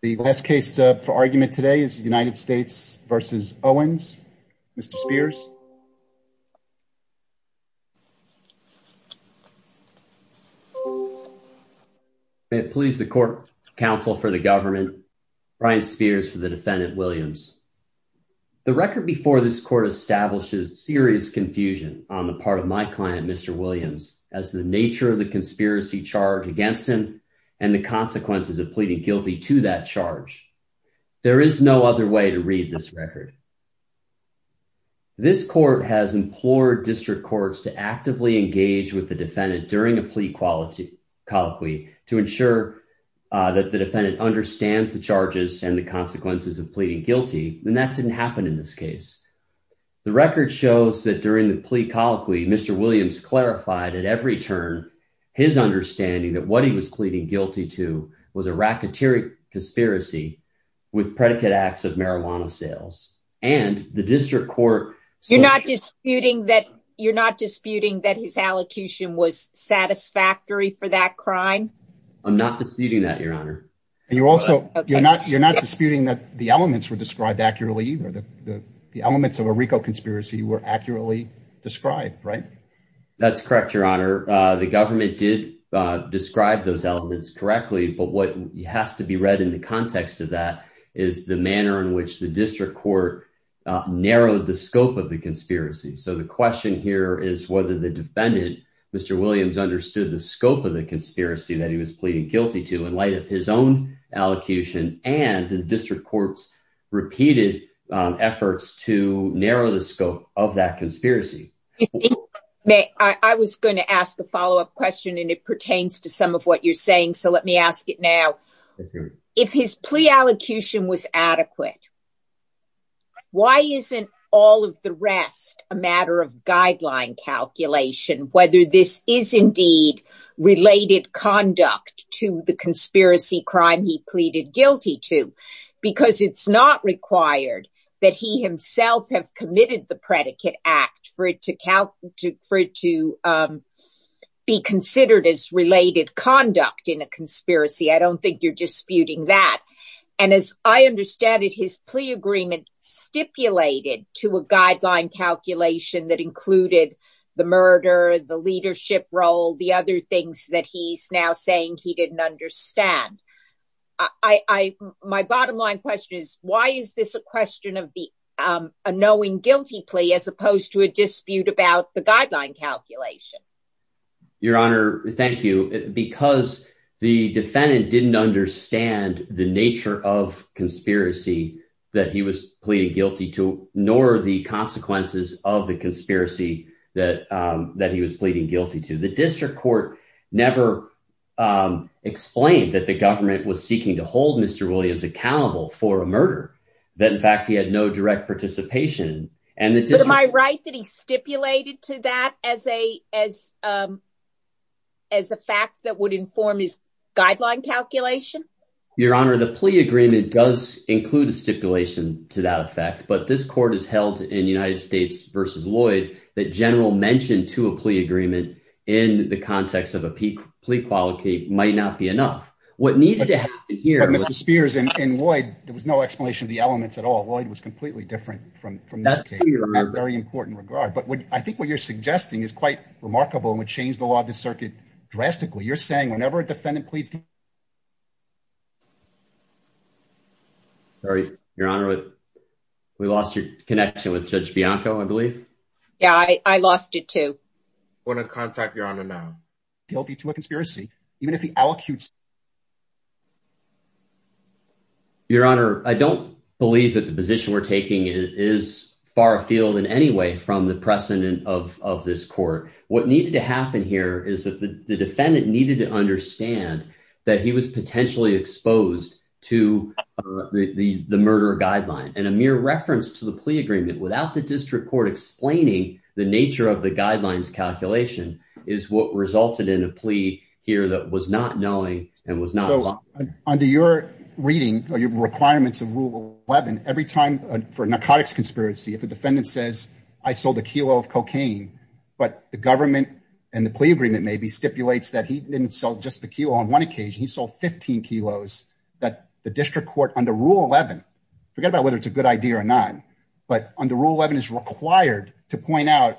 The last case for argument today is United States v. Owens. Mr. Spears. May it please the court, counsel for the government, Brian Spears for the defendant Williams. The record before this court establishes serious confusion on the part of my client Mr. Williams as the nature of the conspiracy charge against him and the consequences of pleading guilty to that charge. There is no other way to read this record. This court has implored district courts to actively engage with the defendant during a plea colloquy to ensure that the defendant understands the charges and the consequences of pleading guilty and that didn't happen in this case. The record shows that during the plea colloquy Mr. Williams clarified at every turn his understanding that what he was pleading guilty to was a racketeering conspiracy with predicate acts of marijuana sales and the district court. You're not disputing that you're not disputing that his allocution was satisfactory for that crime? I'm not disputing that your honor and you're also you're not you're not disputing that the elements were described accurately either the the elements of a RICO conspiracy were accurately described right? That's correct your honor the government did describe those elements correctly but what has to be read in the context of that is the manner in which the district court narrowed the scope of the conspiracy. So the question here is whether the defendant Mr. Williams understood the scope of the conspiracy that he was pleading guilty to in light of his own allocution and the district court's repeated efforts to narrow the scope of that conspiracy. May I was going to ask a follow-up question and it pertains to some of what you're saying so let me ask it now. If his plea allocution was adequate why isn't all of the rest a matter of guideline calculation whether this is indeed related conduct to the conspiracy crime he pleaded guilty to because it's not required that he himself have committed the predicate act for to be considered as related conduct in a conspiracy. I don't think you're disputing that and as I understand it his plea agreement stipulated to a guideline calculation that included the murder, the leadership role, the other things that he's now saying he didn't understand. My bottom line question is why is this a question of the a knowing guilty plea as opposed to a dispute about the guideline calculation? Your honor thank you because the defendant didn't understand the nature of conspiracy that he was pleading guilty to nor the consequences of the conspiracy that he was pleading guilty to. The district court never explained that the government was seeking to and am I right that he stipulated to that as a as a fact that would inform his guideline calculation? Your honor the plea agreement does include a stipulation to that effect but this court has held in United States versus Lloyd that general mention to a plea agreement in the context of a peak plea quality might not be enough. What needed to happen here and in Lloyd there was no explanation of the elements at all. Lloyd was completely different from from that very important regard but what I think what you're suggesting is quite remarkable and would change the law of the circuit drastically. You're saying whenever a defendant pleads sorry your honor we lost your connection with Judge Bianco I believe. Yeah I lost it too. Want to contact your honor now guilty to a conspiracy even if he allocutes. Your honor I don't believe that the position we're taking is far afield in any way from the precedent of of this court. What needed to happen here is that the defendant needed to understand that he was potentially exposed to the the murder guideline and a mere reference to the plea without the district court explaining the nature of the guidelines calculation is what resulted in a plea here that was not knowing and was not. So under your reading or your requirements of rule 11 every time for a narcotics conspiracy if a defendant says I sold a kilo of cocaine but the government and the plea agreement maybe stipulates that he didn't sell just the kilo on one occasion he sold 15 kilos that the district court under rule 11 forget whether it's a good idea or not but under rule 11 is required to point out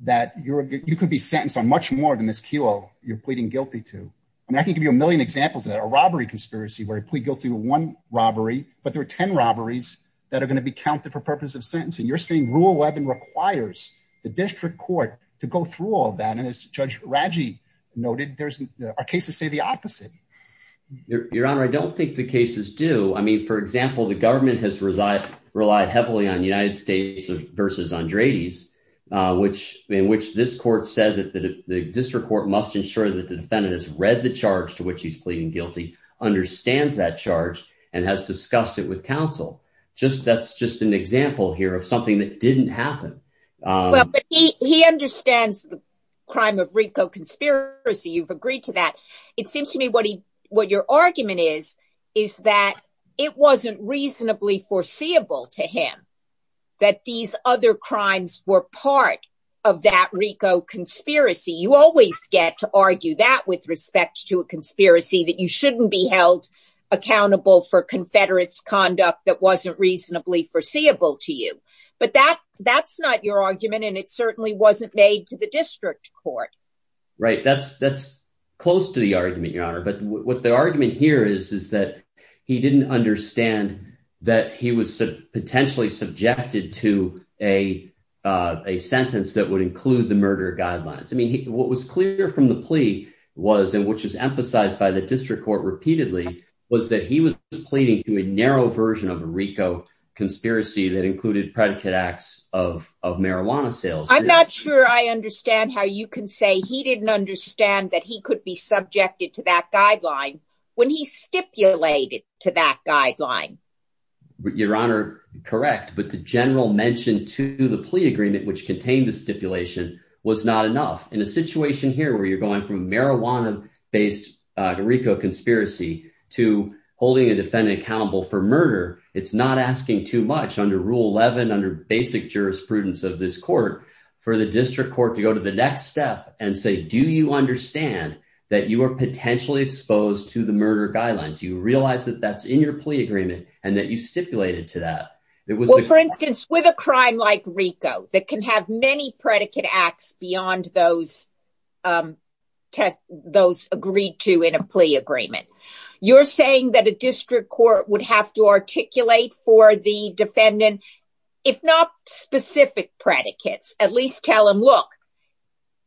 that you're you could be sentenced on much more than this kilo you're pleading guilty to. I mean I can give you a million examples of that a robbery conspiracy where he plead guilty to one robbery but there are 10 robberies that are going to be counted for purpose of sentencing. You're saying rule 11 requires the district court to go through all that and as Judge Raggi noted there's our cases say the opposite. Your honor I don't think the cases do I mean for example the government has relied heavily on United States versus Andrade's which in which this court said that the district court must ensure that the defendant has read the charge to which he's pleading guilty understands that charge and has discussed it with counsel just that's just an example here of something that didn't happen. Well but he understands the crime of Rico conspiracy you've agreed to that it seems to me what he what your argument is is that it wasn't reasonably foreseeable to him that these other crimes were part of that Rico conspiracy you always get to argue that with respect to a conspiracy that you shouldn't be held accountable for confederate's conduct that wasn't reasonably foreseeable to you but that that's not your argument and it certainly wasn't made to the district court. Right that's that's close to argument your honor but what the argument here is is that he didn't understand that he was potentially subjected to a a sentence that would include the murder guidelines I mean what was clear from the plea was and which was emphasized by the district court repeatedly was that he was pleading to a narrow version of a Rico conspiracy that included predicate acts of of marijuana sales. I'm not sure I understand how you can say he didn't understand that he could be subjected to that guideline when he stipulated to that guideline. Your honor correct but the general mention to the plea agreement which contained the stipulation was not enough in a situation here where you're going from marijuana-based Rico conspiracy to holding a defendant accountable for murder it's not asking too much under rule 11 under basic jurisprudence of this potentially exposed to the murder guidelines you realize that that's in your plea agreement and that you stipulated to that it was for instance with a crime like Rico that can have many predicate acts beyond those um test those agreed to in a plea agreement you're saying that a district court would have to articulate for the defendant if not specific predicates at least tell look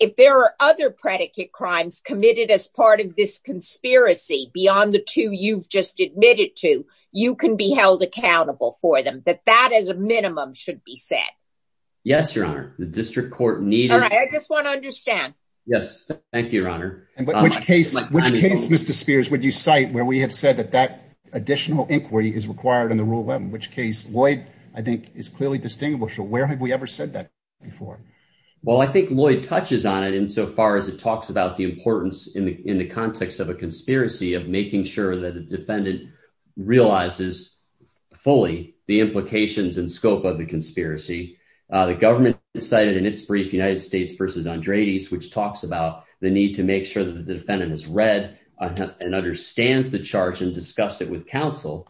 if there are other predicate crimes committed as part of this conspiracy beyond the two you've just admitted to you can be held accountable for them but that as a minimum should be said yes your honor the district court needed i just want to understand yes thank you your honor and but which case which case mr spears would you cite where we have said that that additional inquiry is required in the rule 11 which case lloyd i think is clearly distinguishable where have we ever said that before well i think lloyd touches on it in so far as it talks about the importance in the in the context of a conspiracy of making sure that the defendant realizes fully the implications and scope of the conspiracy uh the government decided in its brief united states versus andreides which talks about the need to make sure that the defendant has read and understands the charge and discuss it with counsel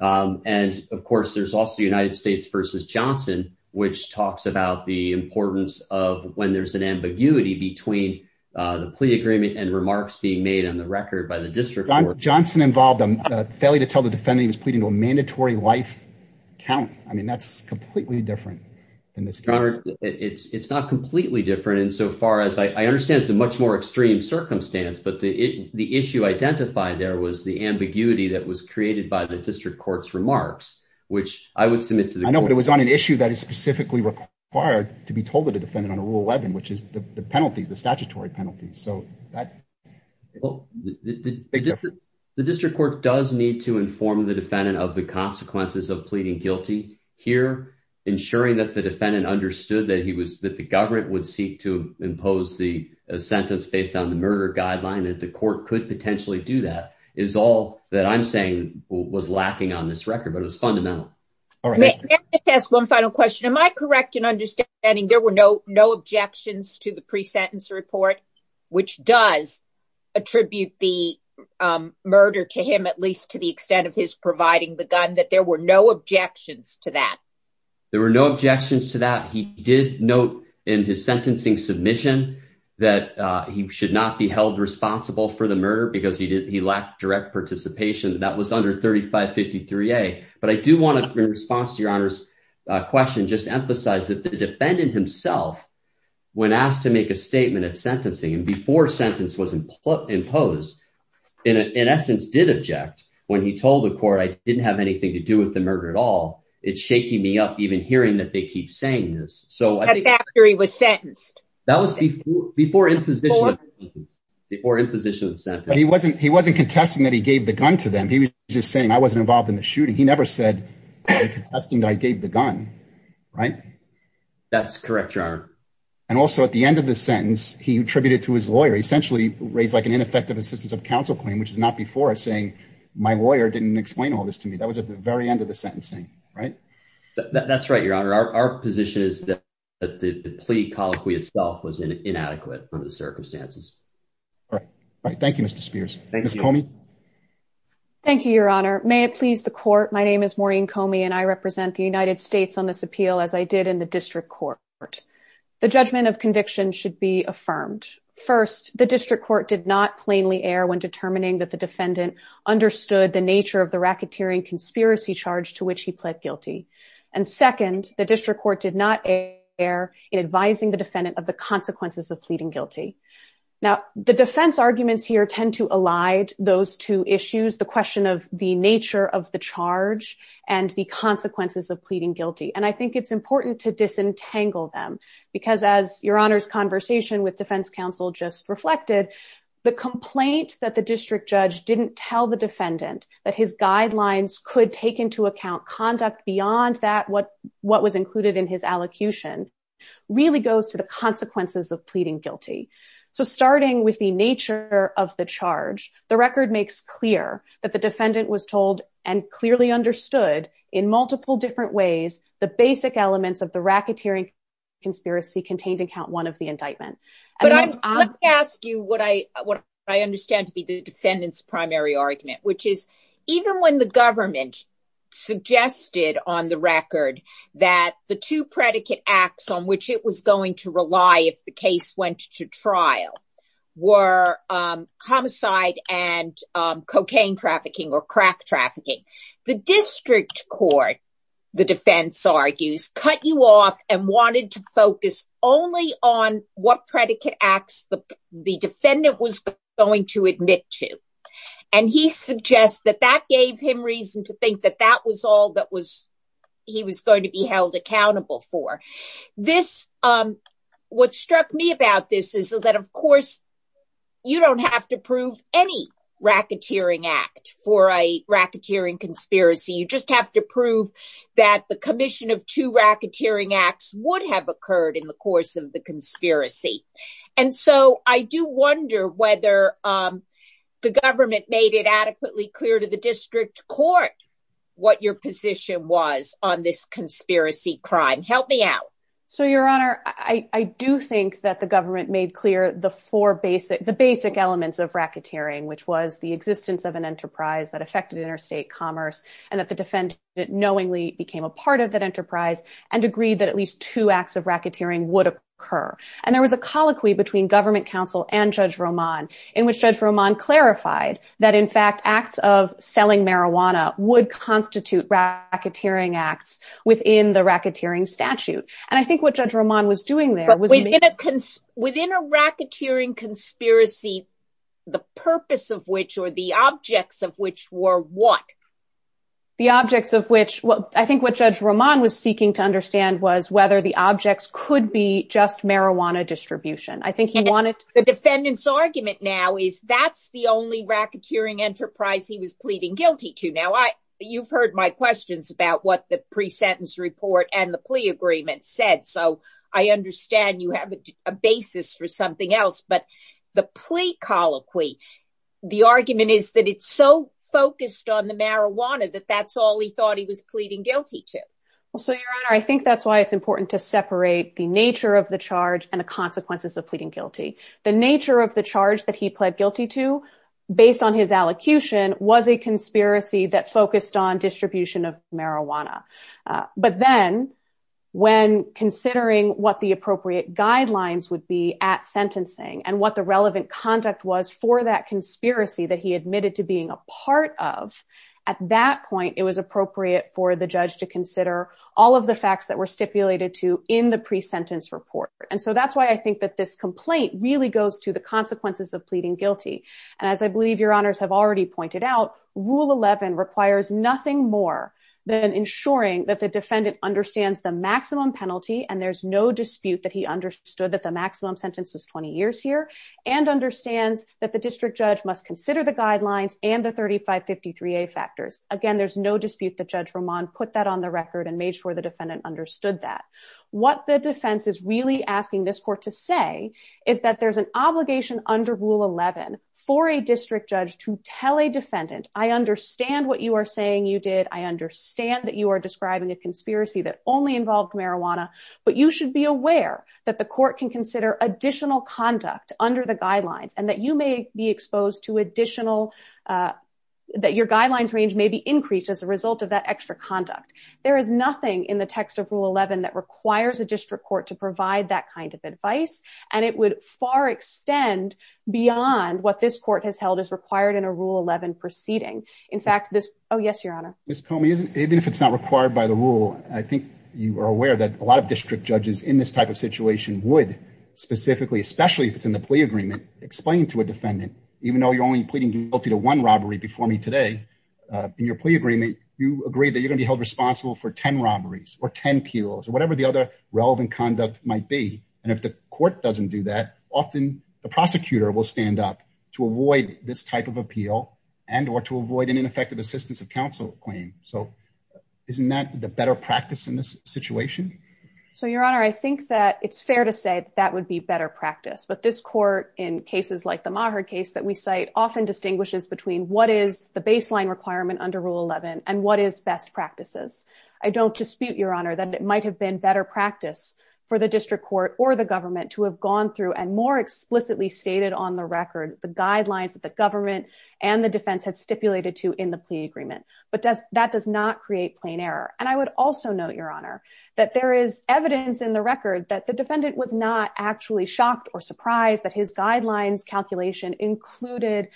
um and of course there's also united states versus johnson which talks about the importance of when there's an ambiguity between uh the plea agreement and remarks being made on the record by the district johnson involved a failure to tell the defendant he was pleading to a mandatory life count i mean that's completely different than this it's it's not completely different in so far as i i understand it's a much more extreme circumstance but the the issue identified there was the ambiguity that was created by the district court's remarks which i would submit to the i know but it was on an issue that is specifically required to be told to the defendant on a rule 11 which is the penalties the statutory penalties so that well the district court does need to inform the defendant of the consequences of pleading guilty here ensuring that the defendant understood that he was that the government would seek to impose the sentence based on the murder guideline that the court could potentially do that is all that i'm saying was lacking on this record but it was fundamental let's ask one final question am i correct in understanding there were no no objections to the pre-sentence report which does attribute the um murder to him at least to the extent of his providing the gun that there were no objections to that there were no objections to that he did note in his sentencing submission that uh he should not be held responsible for the murder because he did he lacked direct participation that was under 35 53a but i do want to in response to your honor's question just emphasize that the defendant himself when asked to make a statement of sentencing and before sentence was imposed in an essence did object when he told the court i didn't have anything to do with the murder at all it's shaking me up even hearing that they keep saying this so i think that period was sentenced that was before before imposition before imposition of the sentence but he wasn't he wasn't contesting that he gave the gun to them he was just saying i wasn't involved in the shooting he never said i'm contesting that i gave the gun right that's correct your honor and also at the end of the sentence he attributed to his lawyer essentially raised like an ineffective assistance of counsel claim which is not before saying my lawyer didn't explain all this to me that was at the very end of the sentencing right that's right your honor our position is that the plea colloquy itself was inadequate under the circumstances all right all right thank you mr spears thank you miss comey thank you your honor may it please the court my name is maureen comey and i represent the united states on this appeal as i did in the district court the judgment of conviction should be affirmed first the district court did not plainly err when determining that the defendant understood the nature of the racketeering conspiracy charge to which he pled guilty and second the district court did not err in advising the defendant of the consequences of pleading guilty now the defense arguments here tend to elide those two issues the question of the nature of the charge and the consequences of pleading guilty and i think it's important to disentangle them because as your honor's conversation with defense counsel just reflected the complaint that the district judge didn't tell the defendant that his guidelines could take into account conduct beyond that what what was included in his allocution really goes to the consequences of pleading guilty so starting with the nature of the charge the record makes clear that the defendant was told and clearly understood in multiple different ways the basic elements of the racketeering conspiracy contained account one of the indictment but i'm let me ask you what i what i understand to be the defendant's primary argument which is even when the government suggested on the record that the two predicate acts on which it was going to rely if the case went to trial were homicide and cocaine trafficking or crack trafficking the district court the defense argues cut you off and wanted to focus only on what predicate acts the the defendant was going to admit to and he suggests that that gave him reason to think that that was all that was he was going to be held accountable for this um what struck me about this is that of course you don't have to prove any racketeering act for a racketeering conspiracy you just have to prove that the commission of two racketeering acts would have occurred in the course of the conspiracy and so i do wonder whether um the government made it adequately clear to the district court what your position was on this conspiracy crime help me out so your honor i i do think that the government made clear the four basic the basic elements of racketeering which was the existence of an enterprise that affected interstate commerce and that the defendant knowingly became a part of that enterprise and agreed that at least two acts of racketeering would occur and there was a colloquy between government council and judge roman in which judge roman clarified that in fact acts of selling marijuana would constitute racketeering acts within the racketeering statute and i think what judge roman was doing there was within a within a racketeering conspiracy the purpose of which or the objects of which were what the objects of which well i think what judge roman was seeking to understand was whether the objects could be just marijuana distribution i think he wanted the defendant's argument now is that's the only racketeering enterprise he was pleading guilty to now i you've heard my questions about what the pre-sentence report and the plea agreement said so i understand you have a basis for something else but the plea colloquy the argument is that it's so focused on the marijuana that that's all he thought he was pleading guilty to well so your honor i think that's why it's important to separate the nature of the charge and the consequences of pleading guilty the nature of the charge that he pled guilty to based on his allocution was a conspiracy that focused on distribution of marijuana but then when considering what the appropriate guidelines would be at sentencing and what the relevant conduct was for that conspiracy that he admitted to being a part of at that point it was appropriate for the judge to consider all of the facts that were stipulated to in the pre-sentence report and so that's why i think that this complaint really goes to the consequences of pleading guilty and as i believe your honors have already pointed out rule 11 requires nothing more than ensuring that the defendant understands the maximum penalty and there's no dispute that he understood that the maximum sentence was 20 years here and understands that the district judge must consider the guidelines and the 35 53a factors again there's no dispute that judge ramon put that on the record and made sure the defendant understood that what the defense is really asking this court to say is that there's an obligation under rule 11 for a district judge to tell a defendant i understand what you are saying you did i understand that you are describing a conspiracy that only involved marijuana but you should be aware that the court can consider additional conduct under the guidelines and that you may be exposed to extra conduct there is nothing in the text of rule 11 that requires a district court to provide that kind of advice and it would far extend beyond what this court has held is required in a rule 11 proceeding in fact this oh yes your honor miss comey isn't even if it's not required by the rule i think you are aware that a lot of district judges in this type of situation would specifically especially if it's in the plea agreement explain to a defendant even though you're only pleading guilty to one robbery before me today in your plea agreement you agree that you're going to be held responsible for 10 robberies or 10 peos or whatever the other relevant conduct might be and if the court doesn't do that often the prosecutor will stand up to avoid this type of appeal and or to avoid an ineffective assistance of counsel claim so isn't that the better practice in this situation so your honor i think that it's fair to say that would be better practice but this court in cases like the maher case that we cite often distinguishes between what is the baseline requirement under rule 11 and what is best practices i don't dispute your honor that it might have been better practice for the district court or the government to have gone through and more explicitly stated on the record the guidelines that the government and the defense had stipulated to in the plea agreement but does that does not create plain error and i would also note your honor that there is evidence in the record that defendant was not actually shocked or surprised that his guidelines calculation included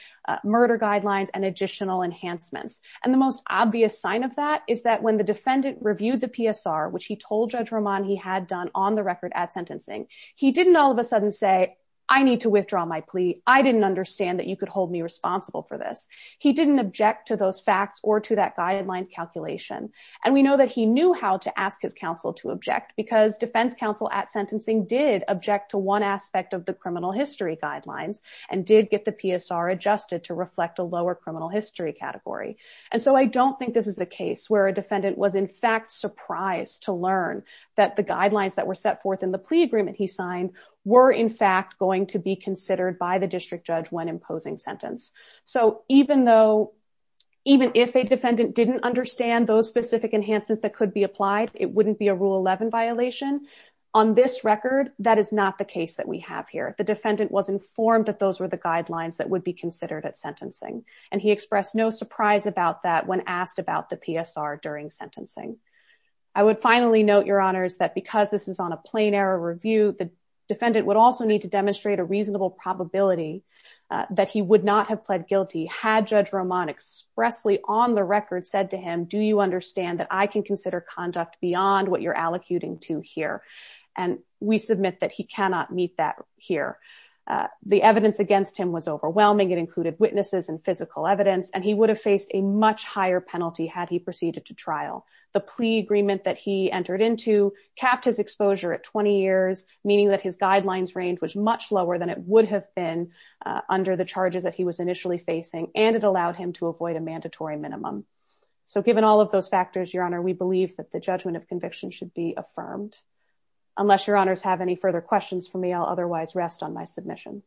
murder guidelines and additional enhancements and the most obvious sign of that is that when the defendant reviewed the psr which he told judge ramon he had done on the record at sentencing he didn't all of a sudden say i need to withdraw my plea i didn't understand that you could hold me responsible for this he didn't object to those facts or to that guidelines calculation and we know that he knew how to ask his counsel to object because defense counsel at sentencing did object to one aspect of the criminal history guidelines and did get the psr adjusted to reflect a lower criminal history category and so i don't think this is the case where a defendant was in fact surprised to learn that the guidelines that were set forth in the plea agreement he signed were in fact going to be considered by the district judge when imposing sentence so even though even if a defendant didn't understand those specific enhancements that could be applied it wouldn't be a rule 11 violation on this record that is not the case that we have here the defendant was informed that those were the guidelines that would be considered at sentencing and he expressed no surprise about that when asked about the psr during sentencing i would finally note your honors that because this is on a plain error review the defendant would also need to demonstrate a reasonable probability that he would not have pled guilty had judge roman expressly on the record said to him do you understand that i can consider conduct beyond what you're allocuting to here and we submit that he cannot meet that here the evidence against him was overwhelming it included witnesses and physical evidence and he would have faced a much higher penalty had he proceeded to trial the plea agreement that he entered into capped his exposure at 20 years meaning that his guidelines range was lower than it would have been under the charges that he was initially facing and it allowed him to avoid a mandatory minimum so given all of those factors your honor we believe that the judgment of conviction should be affirmed unless your honors have any further questions for me i'll otherwise rest on my submission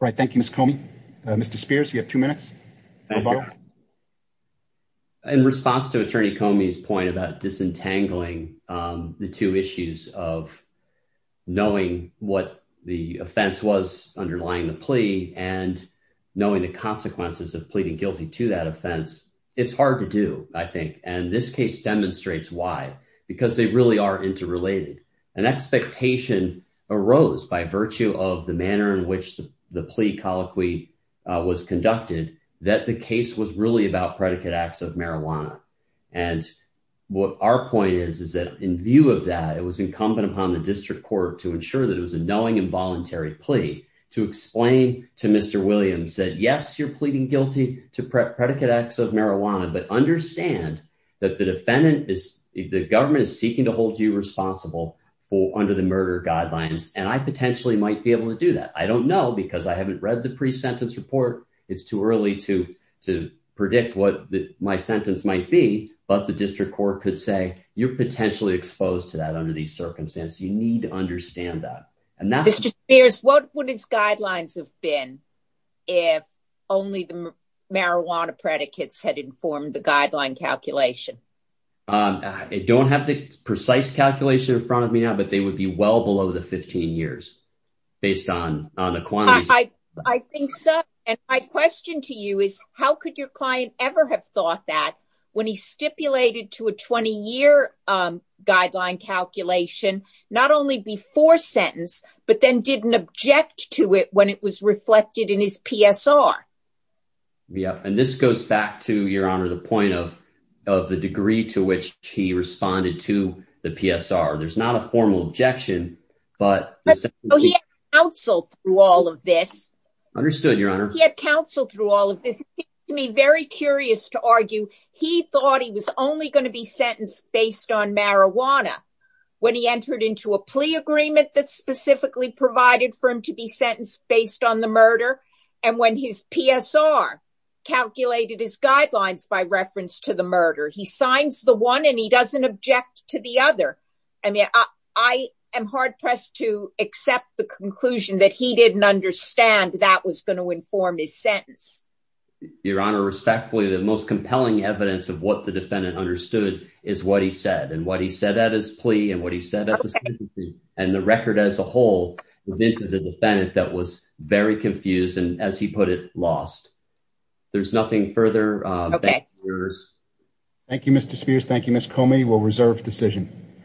all right thank you miss comey mr spears you have two minutes thank you in response to attorney comey's point about disentangling um the two issues of knowing what the offense was underlying the plea and knowing the consequences of pleading guilty to that offense it's hard to do i think and this case demonstrates why because they really are interrelated an expectation arose by virtue of the manner in which the plea colloquy was conducted that the case was really about predicate acts of marijuana and what our point is is that in view of that it was incumbent upon the district court to ensure that it was a knowing involuntary plea to explain to mr williams that yes you're pleading guilty to predicate acts of marijuana but understand that the defendant is the government is seeking to hold you responsible for under the murder guidelines and i potentially might be able to do that i don't know because i haven't read the pre-sentence report it's too early to to predict what my sentence might be but the district court could say you're potentially exposed to that under these circumstances you need to understand that and that's just bears what would his guidelines have been if only the marijuana predicates had informed the guideline calculation um i don't have the precise calculation in front of me now they would be well below the 15 years based on on the quantities i think so and my question to you is how could your client ever have thought that when he stipulated to a 20-year um guideline calculation not only before sentence but then didn't object to it when it was reflected in his psr yeah and this goes back to your honor the point of of the degree to which he responded to the psr there's not a formal objection but he counseled through all of this understood your honor he had counseled through all of this to me very curious to argue he thought he was only going to be sentenced based on marijuana when he entered into a plea agreement that specifically provided for him to be sentenced based on the murder and when his psr calculated his guidelines by reference to the i am hard-pressed to accept the conclusion that he didn't understand that was going to inform his sentence your honor respectfully the most compelling evidence of what the defendant understood is what he said and what he said at his plea and what he said and the record as a whole the defense is a defendant that was very confused and as he put it lost there's nothing further okay thank you mr spears thank you miss comey we'll reserve decision